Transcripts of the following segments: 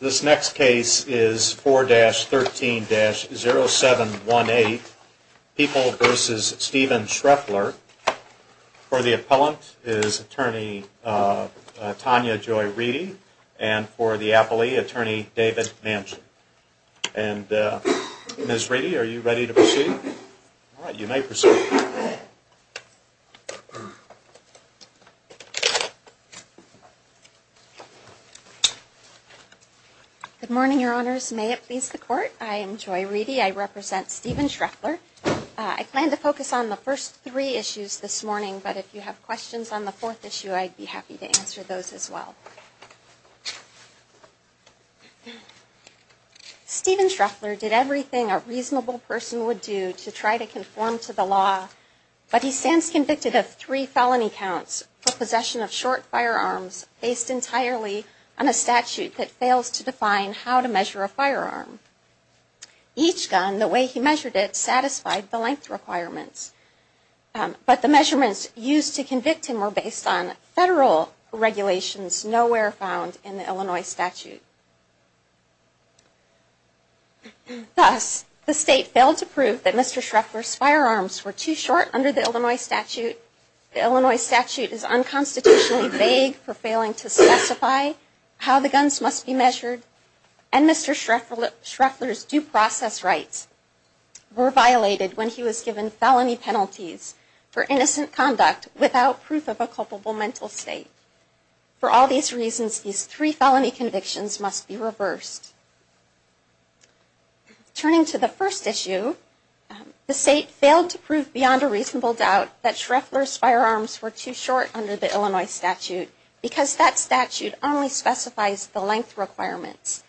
This next case is 4-13-0718, People v. Stephen Shreffler. For the appellant is attorney Tanya Joy Reedy and for the appellee attorney David Manchin and Ms. Joy Reedy Good morning, your honors. May it please the court, I am Joy Reedy. I represent Stephen Shreffler. I plan to focus on the first three issues this morning, but if you have questions on the fourth issue, I'd be happy to answer those as well. Stephen Shreffler did everything a reasonable person would do to try to conform to the law, but he stands convicted of three felony counts for possession of short firearms based entirely on a statute that fails to define how to measure a firearm. Each gun, the way he measured it, satisfied the length requirements, but the measurements used to convict him were based on federal regulations nowhere found in the Illinois statute. Thus, the state failed to prove that Mr. Shreffler's firearms were too short under the Illinois statute, the Illinois statute is unconstitutionally vague for failing to specify how the guns must be measured, and Mr. Shreffler's due process rights were violated when he was given felony penalties for innocent conduct without proof of a culpable mental state. For all these reasons, these three felony convictions must be reversed. Turning to the first issue, the state failed to prove beyond a reasonable doubt that Shreffler's firearms were too short under the Illinois statute because that statute only specifies the length requirements.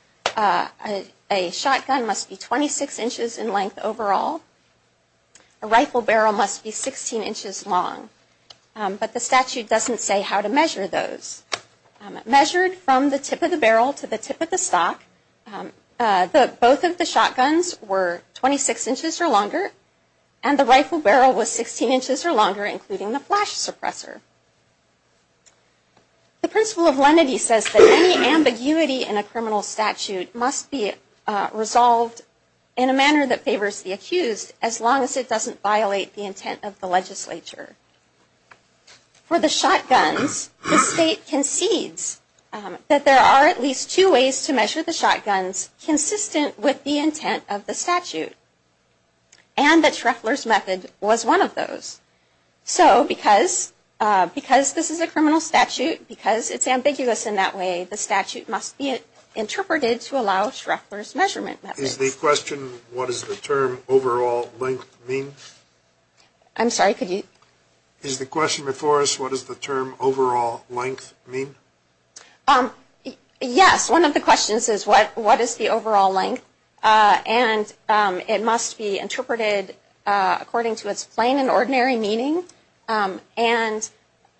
A shotgun must be 26 inches in length overall, a rifle barrel must be 16 inches long, but the statute doesn't say how to measure those. Measured from the tip of the barrel to the tip of the stock, both of the shotguns were 26 inches or longer, and the rifle barrel was 16 inches or longer, including the flash suppressor. The principle of lenity says that any ambiguity in a criminal statute must be resolved in a manner that favors the accused as long as it doesn't violate the intent of the legislature. For the shotguns, the state concedes that there are at least two ways to measure the shotguns consistent with the intent of the statute, and that Shreffler's method was one of those. So, because this is a criminal statute, because it's ambiguous in that way, the statute must be interpreted to allow Shreffler's measurement method. Is the question, what does the term overall length mean? I'm sorry, could you? Is the question before us, what does the term overall length mean? Yes, one of the questions is what is the overall length, and it must be interpreted according to its plain and ordinary meaning, and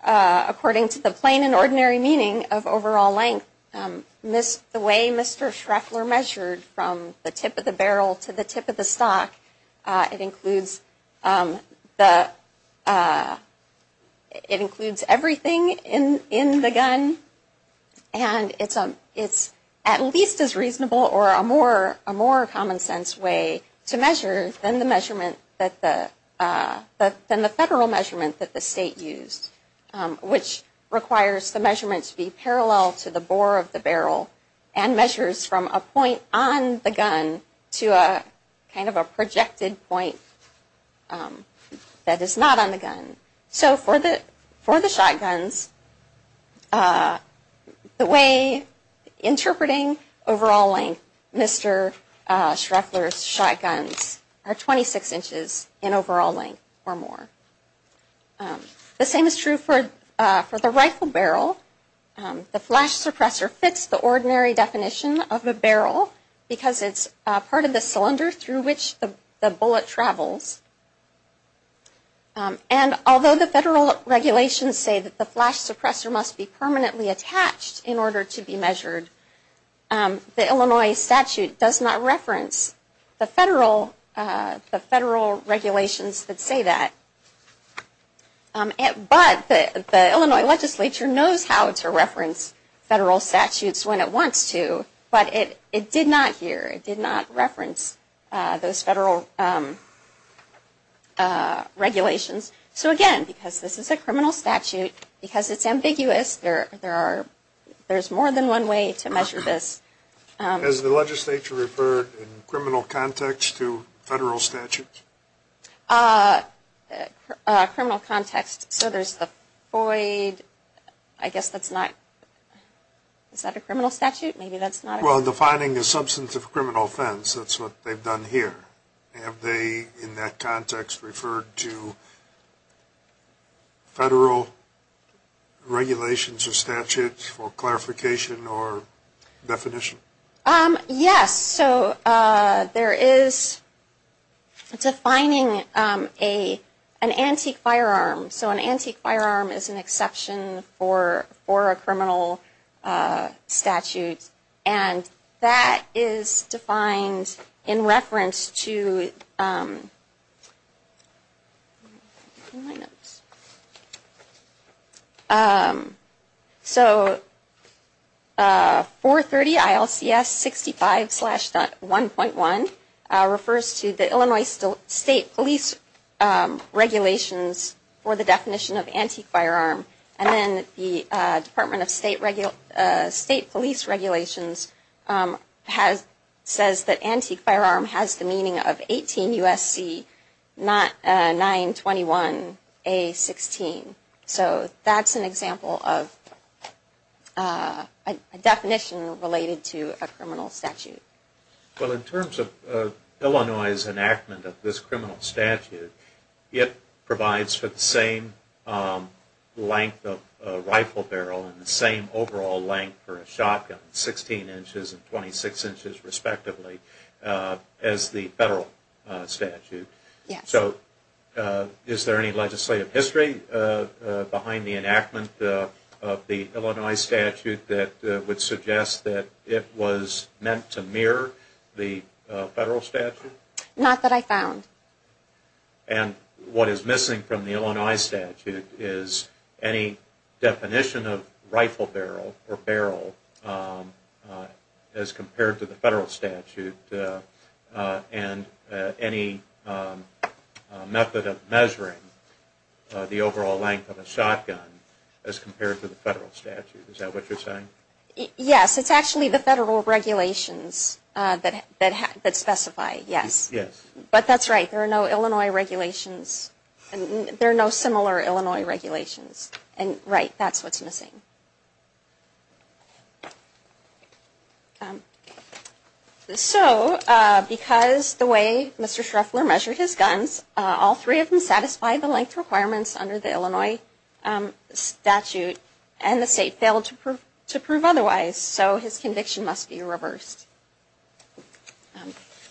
according to the plain and ordinary meaning of overall length, the way Mr. Shreffler measured from the tip of the barrel to the tip of the stock, it includes everything in the gun, and it's at least as reasonable or a more common sense way to measure than the federal measurement that the state used, which requires the measurement to be parallel to the bore of the barrel, and measures from a point on the gun to a kind of a projected point that is not on the gun. So for the shotguns, the way interpreting overall length, Mr. Shreffler's method is shotguns are 26 inches in overall length or more. The same is true for the rifle barrel. The flash suppressor fits the ordinary definition of a barrel because it's part of the cylinder through which the bullet travels, and although the federal regulations say that the flash suppressor must be permanently attached in order to be measured, the Illinois statute does not reference the federal regulations that say that, but the Illinois legislature knows how to reference federal statutes when it wants to, but it did not here, it did not reference those federal regulations. So again, because this is a criminal statute, because it's ambiguous, there's more than one way to measure this. Has the legislature referred in criminal context to federal statutes? Criminal context, so there's the Floyd, I guess that's not, is that a criminal statute? Defining the substance of criminal offense, that's what they've done here. Have they, in that context, referred to federal regulations or statutes for clarification over definition? Yes, so there is defining an antique firearm, so an antique firearm is an exception for a criminal statute, and that is defined in reference to... So, 430 ILCS 65.1.1 refers to the Illinois State Police regulations for the definition of antique firearm, and then the Department of State Police regulations says that antique firearm is a criminal statute. So, that's an example of a definition related to a criminal statute. Well, in terms of Illinois' enactment of this criminal statute, it provides for the same length of rifle barrel and the same overall length for a shotgun, 16 inches and 26 inches respectively, as the federal statute. So, is there any legislative history behind the enactment of the Illinois statute that would suggest that it was meant to mirror the federal statute? Not that I found. And what is missing from the Illinois statute is any definition of rifle barrel or barrel barrel as compared to the federal statute, and any method of measuring the overall length of a shotgun as compared to the federal statute, is that what you're saying? Yes, it's actually the federal regulations that specify, yes. But that's right, there are no Illinois regulations, there are no similar Illinois regulations, and right, that's what's missing. So, because the way Mr. Schreffler measured his guns, all three of them satisfy the length requirements under the Illinois statute, and the state failed to prove otherwise, so his conviction must be reversed.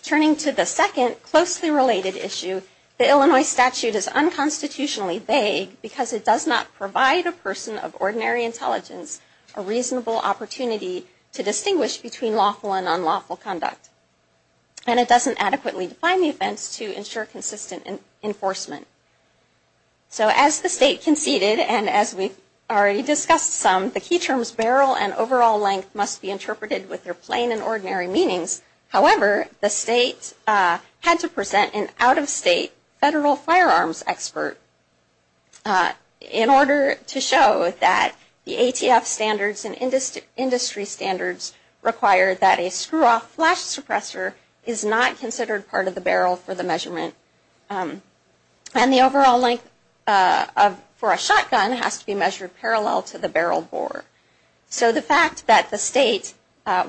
Turning to the second closely related issue, the Illinois statute is unconstitutionally vague because it does not provide a person of ordinary intelligence a reasonable opportunity to distinguish between lawful and unlawful conduct. And it doesn't adequately define the offense to ensure consistent enforcement. So as the state conceded, and as we've already discussed some, the key terms barrel and overall length must be interpreted with their plain and ordinary meanings, however, the state had to present an out-of-state federal firearms expert in order to show that the ATF standards and industry standards require that a screw-off flash suppressor is not considered part of the barrel for the measurement, and the overall length for a shotgun has to be measured parallel to the barrel bore. So the fact that the state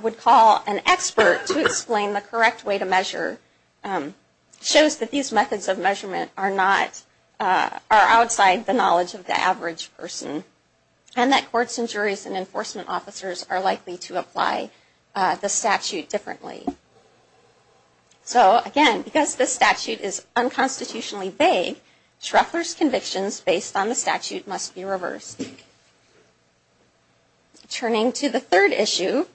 would call an expert to explain the correct way to measure shows that these methods of measurement are not, are outside the knowledge of the average person, and that courts and juries and enforcement officers are likely to apply the statute differently. So again, because this statute is unconstitutionally vague, Schreffler's convictions based on the turning to the third issue,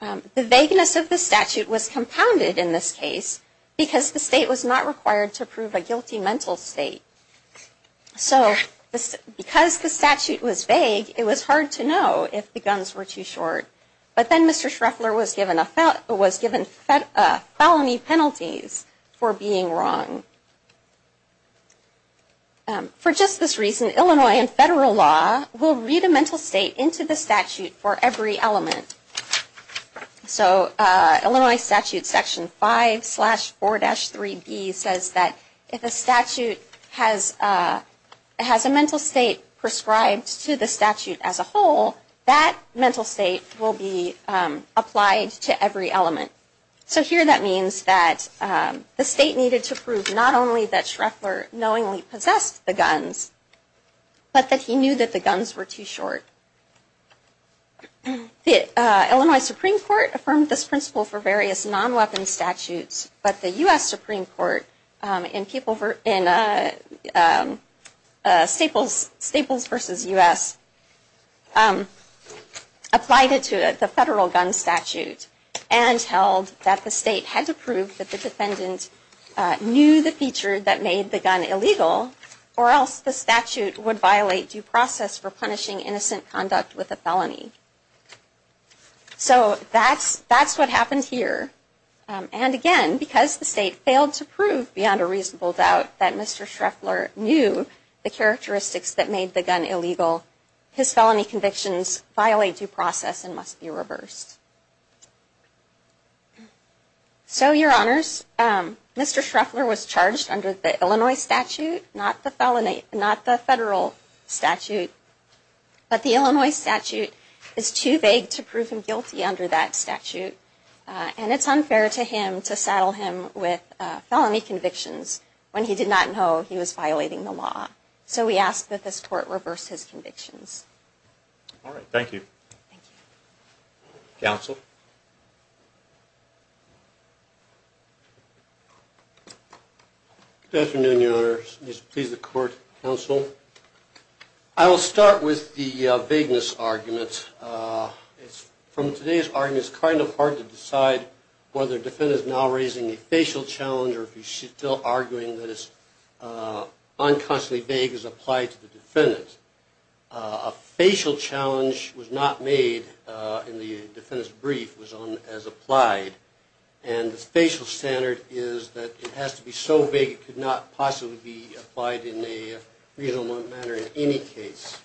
the vagueness of the statute was compounded in this case because the state was not required to prove a guilty mental state. So because the statute was vague, it was hard to know if the guns were too short, but then Mr. Schreffler was given felony penalties for being wrong. For just this reason, Illinois and federal law will read a mental state into the statute for every element. So Illinois statute section 5 slash 4-3b says that if a statute has a mental state prescribed to the statute as a whole, that mental state will be applied to every element. So here that means that the state needed to prove not only that Schreffler knowingly possessed the guns, but that he knew that the guns were too short. Illinois Supreme Court affirmed this principle for various non-weapon statutes, but the U.S. Supreme Court in Staples v. U.S. applied it to the federal gun statute. And held that the state had to prove that the defendant knew the feature that made the gun illegal, or else the statute would violate due process for punishing innocent conduct with a felony. So that's what happened here. And again, because the state failed to prove beyond a reasonable doubt that Mr. Schreffler knew the characteristics that made the gun illegal, his felony convictions violate due process and must be reversed. So your honors, Mr. Schreffler was charged under the Illinois statute, not the federal statute. But the Illinois statute is too vague to prove him guilty under that statute, and it's unfair to him to saddle him with felony convictions when he did not know he was violating the law. So we ask that this court reverse his convictions. All right. Thank you. Thank you. Counsel? Good afternoon, your honors. Please, the court, counsel. I will start with the vagueness argument. From today's argument, it's kind of hard to decide whether the defendant is now raising a facial challenge or if he's still arguing that it's unconstantly vague as applied to the defendant. A facial challenge was not made in the defendant's brief, was on as applied. And the facial standard is that it has to be so vague it could not possibly be applied in a reasonable manner in any case.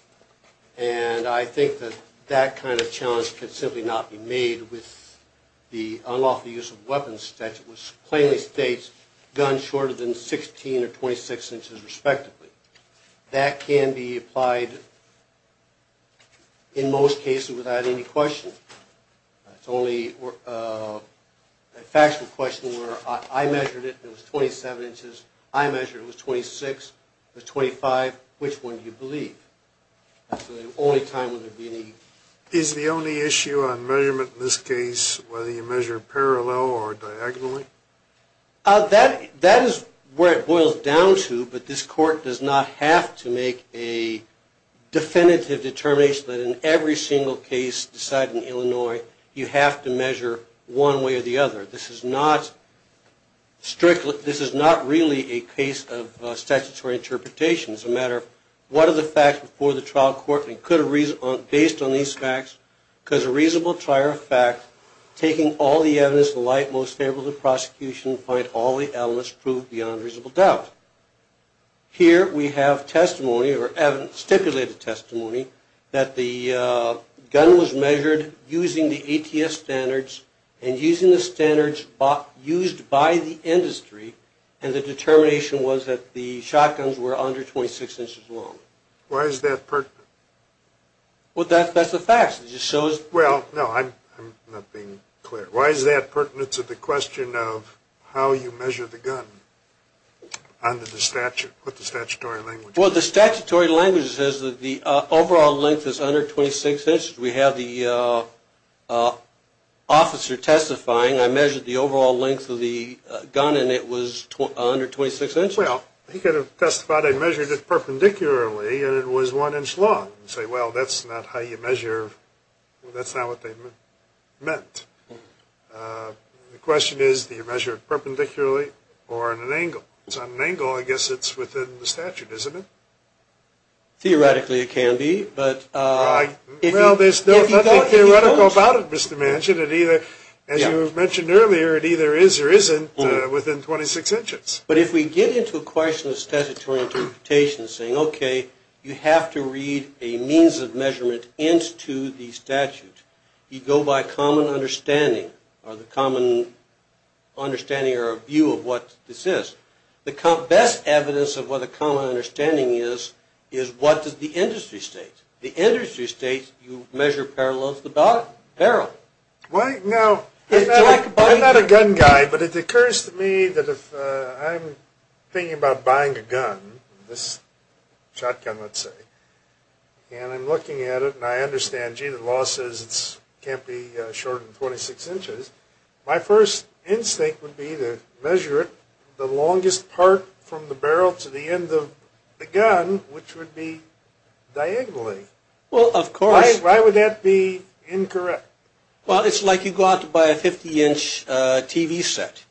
And I think that that kind of challenge could simply not be made with the unlawful use of weapons statute, which plainly states guns are usually shorter than 16 or 26 inches, respectively. That can be applied in most cases without any question. It's only a factual question where I measured it and it was 27 inches, I measured it was 26, it was 25, which one do you believe? That's the only time where there'd be any... Is the only issue on measurement in this case whether you measure parallel or diagonally? That is where it boils down to, but this court does not have to make a definitive determination that in every single case decided in Illinois, you have to measure one way or the other. This is not strictly, this is not really a case of statutory interpretation. It's a matter of what are the facts before the trial court and based on these facts, because a reasonable trial of fact, taking all the evidence, the light most favorable to prosecution, find all the elements prove beyond reasonable doubt. Here we have testimony or evidence, stipulated testimony, that the gun was measured using the ATS standards and using the standards used by the industry and the determination was that the shotguns were under 26 inches long. Why is that pertinent? Well, that's the facts. It just shows... Well, no, I'm not being clear. Why is that pertinent to the question of how you measure the gun under the statute, what the statutory language is? Well, the statutory language says that the overall length is under 26 inches. We have the officer testifying, I measured the overall length of the gun and it was under 26 inches. Well, he could have testified I measured it perpendicularly and it was one inch long and say, well, that's not how you measure, that's not what they meant. The question is, do you measure it perpendicularly or at an angle? So at an angle, I guess it's within the statute, isn't it? Theoretically it can be, but... Well, there's nothing theoretical about it, Mr. Manchin. It either, as you mentioned earlier, it either is or isn't within 26 inches. But if we get into a question of statutory interpretation saying, okay, you have to read a means of measurement into the statute, you go by common understanding or the common understanding or view of what this is. The best evidence of what a common understanding is, is what does the industry state? The industry states you measure parallel to the barrel. Now, I'm not a gun guy, but it occurs to me that if I'm thinking about buying a gun, this shotgun, let's say, and I'm looking at it and I understand, gee, the law says it can't be shorter than 26 inches, my first instinct would be to measure it the longest part from the barrel to the end of the gun, which would be diagonally. Well, of course. Why would that be incorrect? Well, it's like you go out to buy a 50-inch TV set.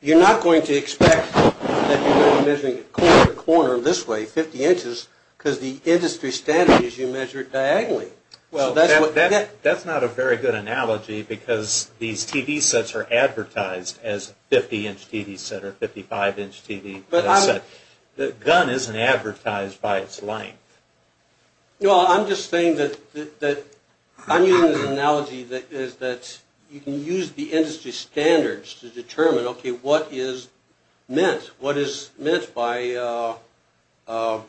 You're not going to expect that you're going to be measuring a corner to corner this way 50 inches because the industry standard is you measure it diagonally. Well, that's not a very good analogy because these TV sets are advertised as 50-inch TV set or 55-inch TV set. The gun isn't advertised by its length. No, I'm just saying that I'm using this analogy that is that you can use the industry standards to determine, okay, what is meant? What is meant by a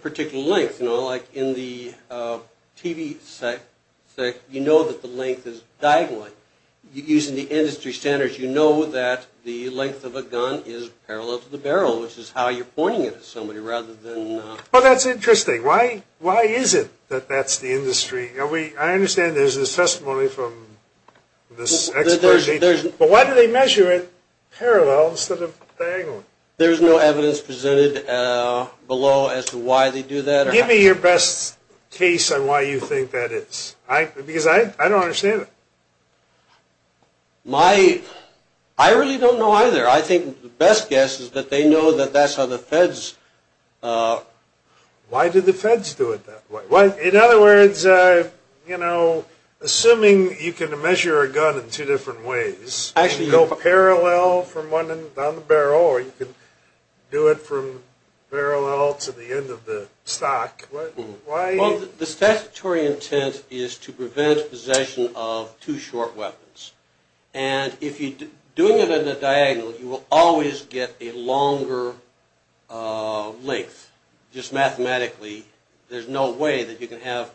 particular length? You know, like in the TV set, you know that the length is diagonally. Using the industry standards, you know that the length of a gun is parallel to the barrel, which is how you're pointing it to somebody rather than... Well, that's interesting. Why is it that that's the industry? I understand there's this testimony from this expert, but why do they measure it parallel instead of diagonally? There's no evidence presented below as to why they do that. Give me your best case on why you think that is because I don't understand it. I really don't know either. I think the best guess is that they know that that's how the feds... Why do the feds do it that way? In other words, you know, assuming you can measure a gun in two different ways, you can go parallel from one end on the barrel or you can do it from parallel to the end of the stock, why... The statutory intent is to prevent possession of too short weapons. And if you're doing it in a diagonal, you will always get a longer length. Just mathematically, there's no way that you can have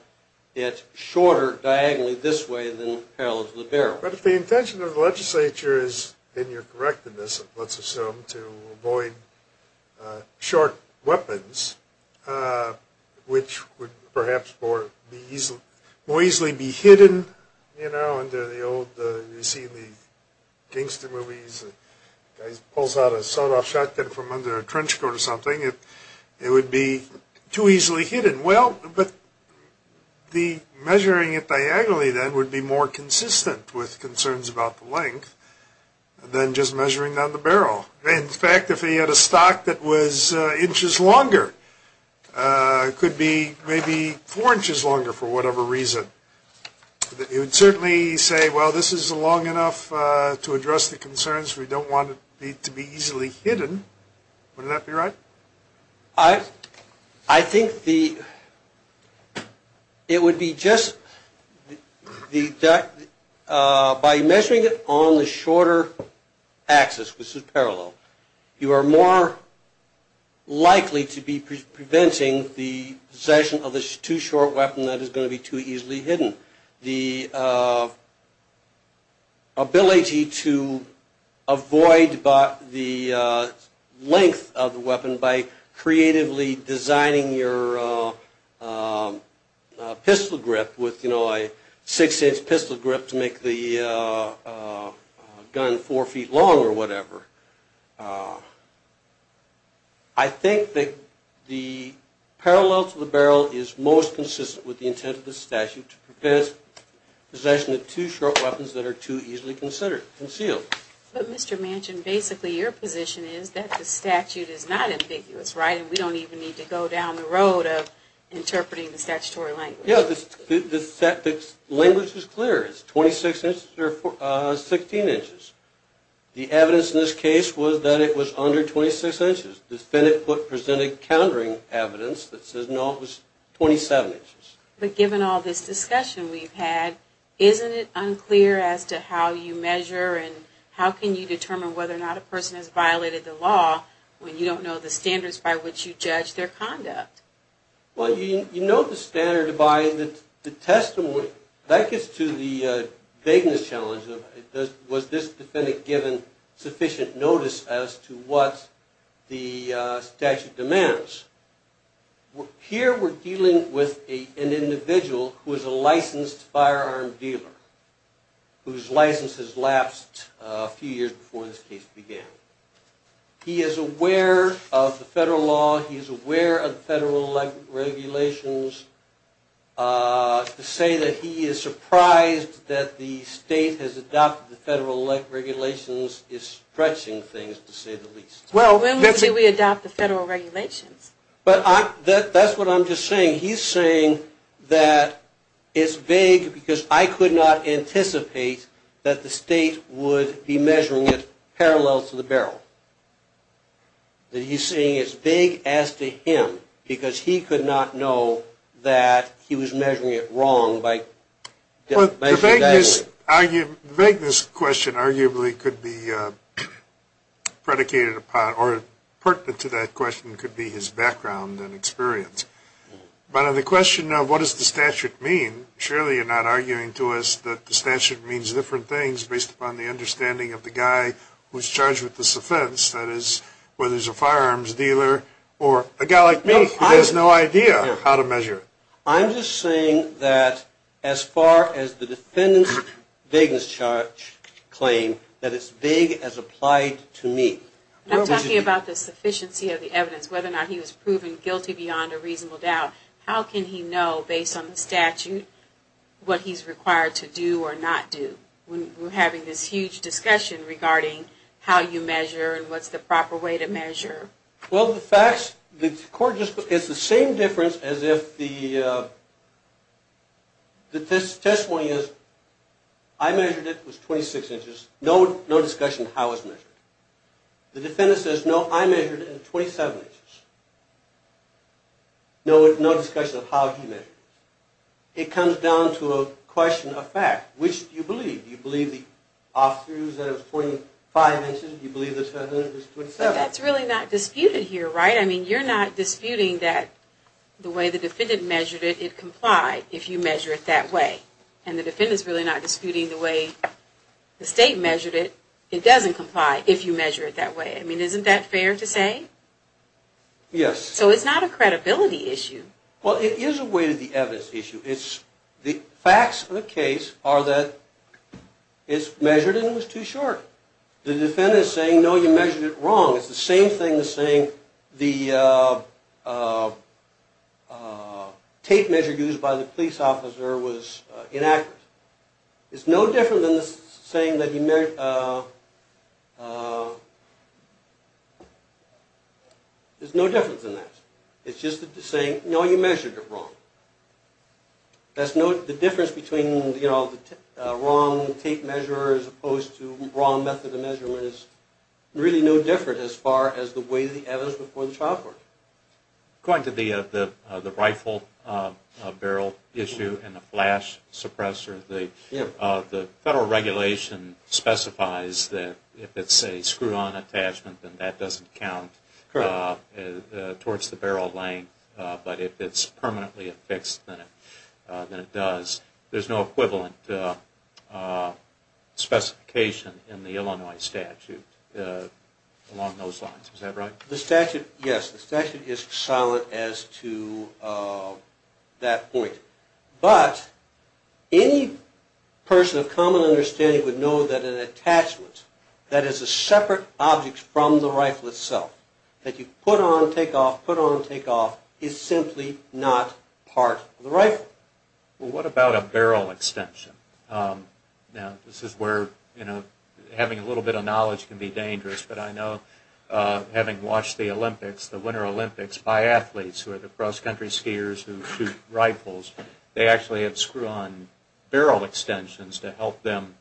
it shorter diagonally this way than parallel to the barrel. But if the intention of the legislature is, in your correctness, let's assume to avoid short weapons, which would perhaps more easily be hidden, you know, under the old... You see in the gangster movies, the guy pulls out a sawed-off shotgun from under a trench coat or something. It would be too easily hidden. Well, but the measuring it diagonally then would be more consistent with concerns about the length than just looking at a stock that was inches longer. It could be maybe four inches longer for whatever reason. You would certainly say, well, this is long enough to address the concerns. We don't want it to be easily hidden. Wouldn't that be right? I think the... It would be just... By measuring it on the shorter axis, which is more likely to be preventing the possession of a too short weapon that is going to be too easily hidden. The ability to avoid the length of the weapon by creatively designing your pistol grip with, you know, a six-inch pistol grip to make the gun four feet long or whatever. I think that the parallel to the barrel is most consistent with the intent of the statute to prevent possession of too short weapons that are too easily concealed. But Mr. Manchin, basically your position is that the statute is not ambiguous, right? And we don't even need to go down the road of interpreting the statutory language. Yeah, the language is clear. It's 26 inches or 16 inches. The evidence in this case was that it was under 26 inches. The defendant presented countering evidence that says, no, it was 27 inches. But given all this discussion we've had, isn't it unclear as to how you measure and how can you determine whether or not a person has violated the law when you don't know the standards by which you judge their conduct? Well, you know the standard by the testimony. That gets to the vagueness challenge of was this defendant given sufficient notice as to what the statute demands. Here we're dealing with an individual who is a licensed firearm dealer whose license has lapsed a few years before this case began. He is aware of the federal regulations. To say that he is surprised that the state has adopted the federal regulations is stretching things, to say the least. Well, when will we adopt the federal regulations? But that's what I'm just saying. He's saying that it's vague because I could not anticipate that the state would be measuring it parallel to the barrel. That he's saying it's vague as to him because he could not know that he was measuring it wrong by measuring it that way. The vagueness question arguably could be predicated upon or pertinent to that question could be his background and experience. But on the question of what does the statute mean, surely you're not arguing to us that the statute means different things based upon the understanding of the guy who's charged with this offense, that is, whether he's a firearms dealer or a guy like me who has no idea how to measure it. I'm just saying that as far as the defendant's vagueness claim, that it's vague as applied to me. I'm talking about the sufficiency of the evidence, whether or not he was proven guilty beyond a reasonable doubt. How can he know based on the statute what he's required to do or not do when we're having this huge discussion regarding how you measure and what's the proper way to measure? Well, the facts, the court just, it's the same difference as if the testimony is, I measured it, it was 26 inches, no discussion of how it was measured. The defendant says, no, I measured it at 27 inches. No discussion of how he measured it. It comes down to a question of fact. Which do you believe? Do you believe the officer who said it was 25 inches, do you believe the defendant said it was 27? But that's really not disputed here, right? I mean, you're not disputing that the way the defendant measured it, it complied if you measure it that way. And the defendant's really not disputing the way the state measured it, it doesn't comply if you measure it that way. I mean, isn't that fair to say? Yes. So it's not a credibility issue. Well, it is a way to the evidence issue. The facts of the case are that it's measured and it was too short. The defendant is saying, no, you measured it wrong. It's the same thing as saying the tape measure used by the police officer was inaccurate. It's no different than saying that you measured, it's no different than that. It's just saying, no, you measured it wrong. The difference between, you know, the wrong tape measure as opposed to wrong method of measurement is really no different as far as the way the evidence before the trial court. Going to the rifle barrel issue and the flash suppressor, the federal regulation specifies that if it's a screw-on attachment, then that doesn't count towards the barrel length. But if it's permanently affixed, then it does. There's no equivalent specification in the Illinois statute along those lines. Is that right? The statute, yes, the statute is silent as to that point. But any person of common understanding would know that an attachment, that is a separate object from the rifle itself, that you put on, take off, put on, take off, is simply not part of the rifle. Well, what about a barrel extension? Now, this is where, you know, having a watch the Olympics, the Winter Olympics, by athletes who are the cross-country skiers who shoot rifles, they actually have screw-on barrel extensions to help them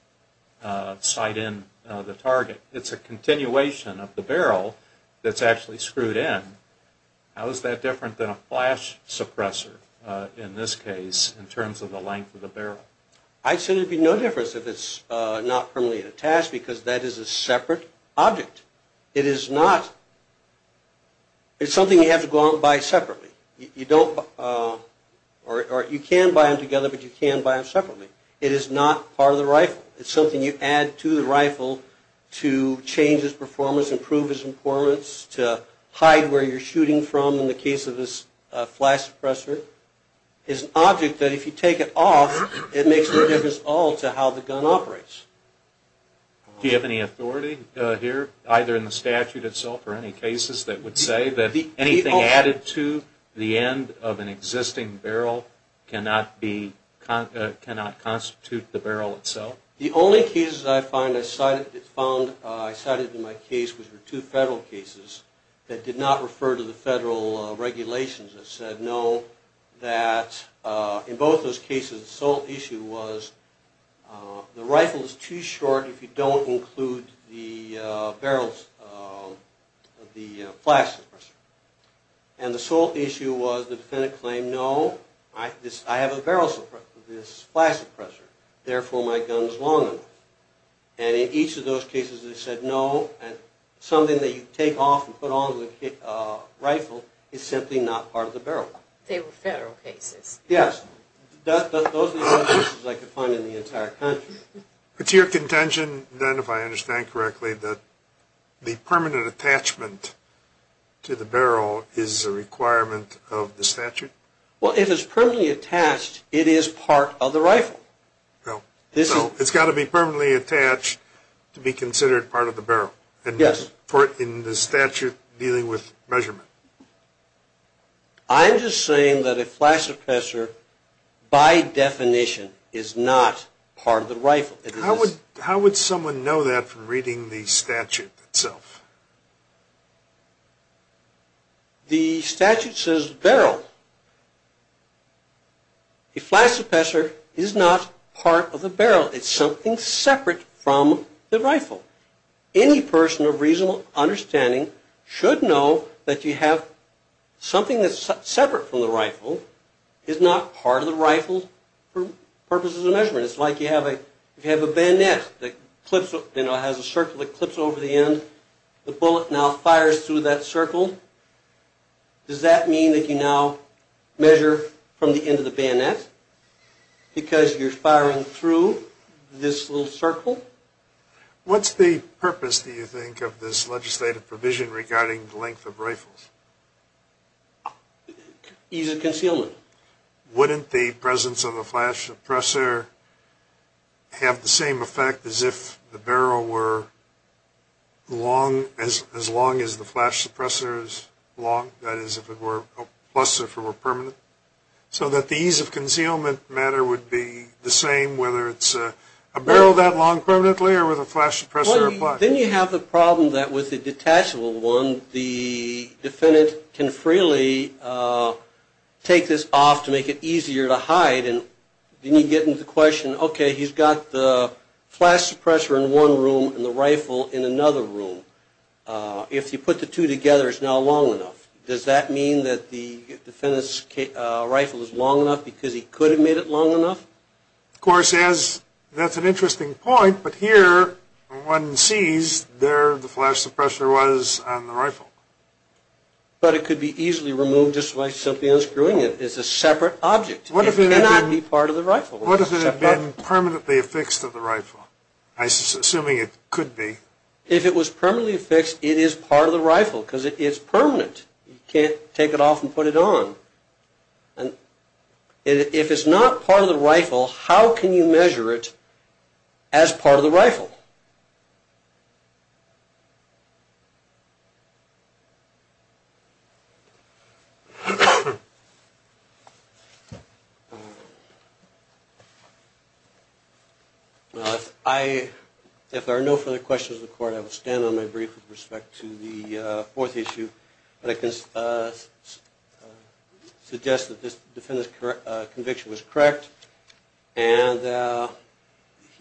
sight in the target. It's a continuation of the barrel that's actually screwed in. How is that different than a flash suppressor in this case in terms of the length of the barrel? I'd say there'd be no difference if it's not permanently attached because that is a separate object. It is not, it's something you have to go out and buy separately. You don't, or you can buy them together, but you can buy them separately. It is not part of the rifle. It's something you add to the rifle to change its performance, improve its performance, to hide where you're shooting from in the case of this flash suppressor. It's an object that if you take it off, it makes no difference at all to how the gun operates. Do you have any authority here, either in the statute itself or any cases that would say that anything added to the end of an existing barrel cannot constitute the barrel itself? The only cases I found, I cited in my case, were two federal cases that did not refer to the federal regulations that said no, that in both those cases the sole issue was too short if you don't include the barrels of the flash suppressor. And the sole issue was the defendant claimed, no, I have a barrel suppressor, this flash suppressor, therefore my gun is long enough. And in each of those cases they said no, and something that you take off and put on the rifle is simply not part of the barrel. They were federal cases. Yes. Those are the only cases I could find in the entire country. But to your contention, then, if I understand correctly, that the permanent attachment to the barrel is a requirement of the statute? Well, if it's permanently attached, it is part of the rifle. So it's got to be permanently attached to be considered part of the barrel? Yes. In the statute dealing with measurement? I'm just saying that a flash suppressor, by definition, is not part of the rifle. How would someone know that from reading the statute itself? The statute says barrel. A flash suppressor is not part of the barrel. It's something separate from the rifle. Any person of reasonable understanding should know that you have something that's separate from the rifle is not part of the rifle for purposes of measurement. It's like you have a bayonet that has a circle that clips over the end. The bullet now fires through that circle. Does that mean that you now measure from the end of the bayonet because you're firing through this little circle? What's the purpose, do you think, of this legislative provision regarding the length of rifles? Ease of concealment. Wouldn't the presence of a flash suppressor have the same effect as if the barrel were as long as the flash suppressor is long? That is, if it were permanent? So that the ease of concealment matter would be the same whether it's a barrel that long permanently or with a flash suppressor applied? Then you have the problem that with the detachable one, the defendant can freely take this off to make it easier to hide. Then you get into the question, okay, he's got the flash suppressor in one room and the rifle in another room. If you put the two together, it's now long enough. Does that mean that the defendant's rifle is long enough because he could have made it long enough? Of course, that's an interesting point, but here one sees where the flash suppressor was on the rifle. But it could be easily removed just by simply unscrewing it. It's a separate object. It cannot be part of the rifle. What if it had been permanently affixed to the rifle, assuming it could be? If it was permanently affixed, it is part of the rifle because it is permanent. You can't take it off and put it on. If it's not part of the rifle, how can you measure it as part of the rifle? If there are no further questions of the Court, I will stand on my brief with respect to the fourth issue. I can suggest that this defendant's conviction was correct.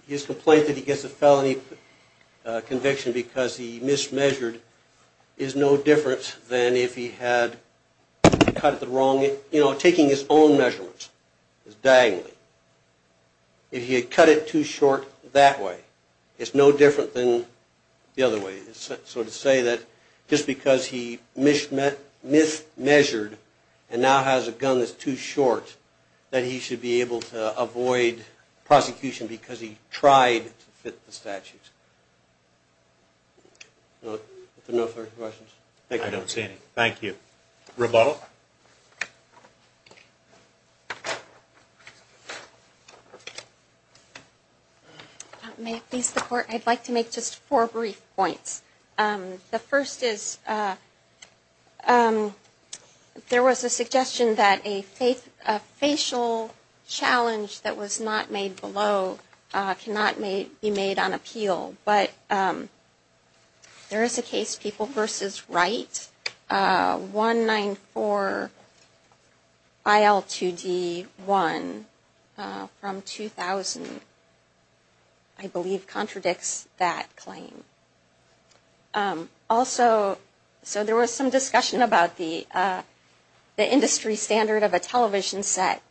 His complaint that he gets a felony conviction because he mismeasured is no different than if he had cut it the wrong way. Taking his own measurements is dangling. If he had cut it too short that way, it's no different than the other way. So to say that just because he mismeasured and now has a gun that's too short, that he should be able to avoid prosecution because he tried to fit the statutes. If there are no further questions, thank you. I don't see any. Thank you. Rebuttal. May it please the Court, I'd like to make just four brief points. The first is there was a suggestion that a facial challenge that was not made below cannot be made on appeal. But there is a case, People v. Wright, 194.3. Or IL2D1 from 2000, I believe, contradicts that claim. Also, so there was some discussion about the industry standard of a television set,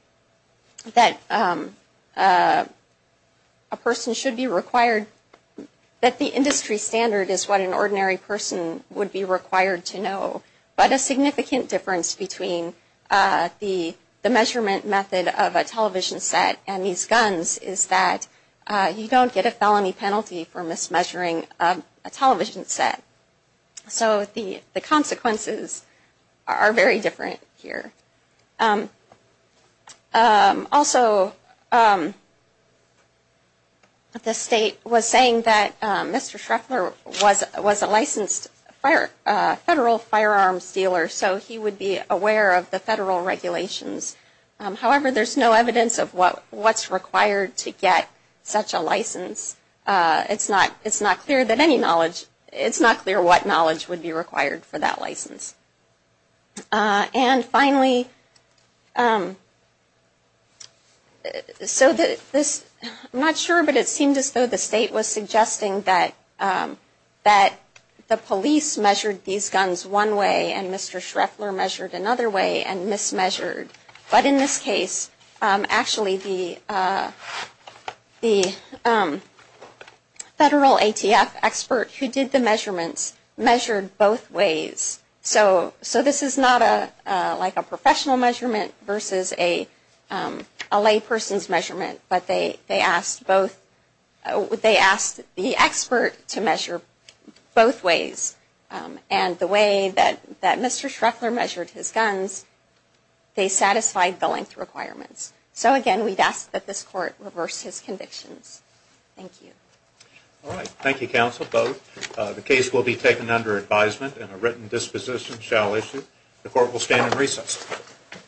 that a person should be required, that the industry standard is what an is that you don't get a felony penalty for mismeasuring a television set. So the consequences are very different here. Also, the state was saying that Mr. Shreffler was a licensed federal firearms dealer, so he would be aware of the federal regulations. However, there's no evidence of what's required to get such a license. It's not clear that any knowledge, it's not clear what knowledge would be required for that license. And finally, so this, I'm not sure, but it seemed as though the state was saying Mr. Shreffler measured another way and mismeasured. But in this case, actually the federal ATF expert who did the measurements measured both ways. So this is not like a professional measurement versus a layperson's measurement, but they asked the expert to measure both ways. And the way that Mr. Shreffler measured his guns, they satisfied the length requirements. So again, we'd ask that this court reverse his convictions. Thank you. All right. Thank you, counsel, both. The case will be taken under advisement and a written disposition shall issue. The court will stand in recess.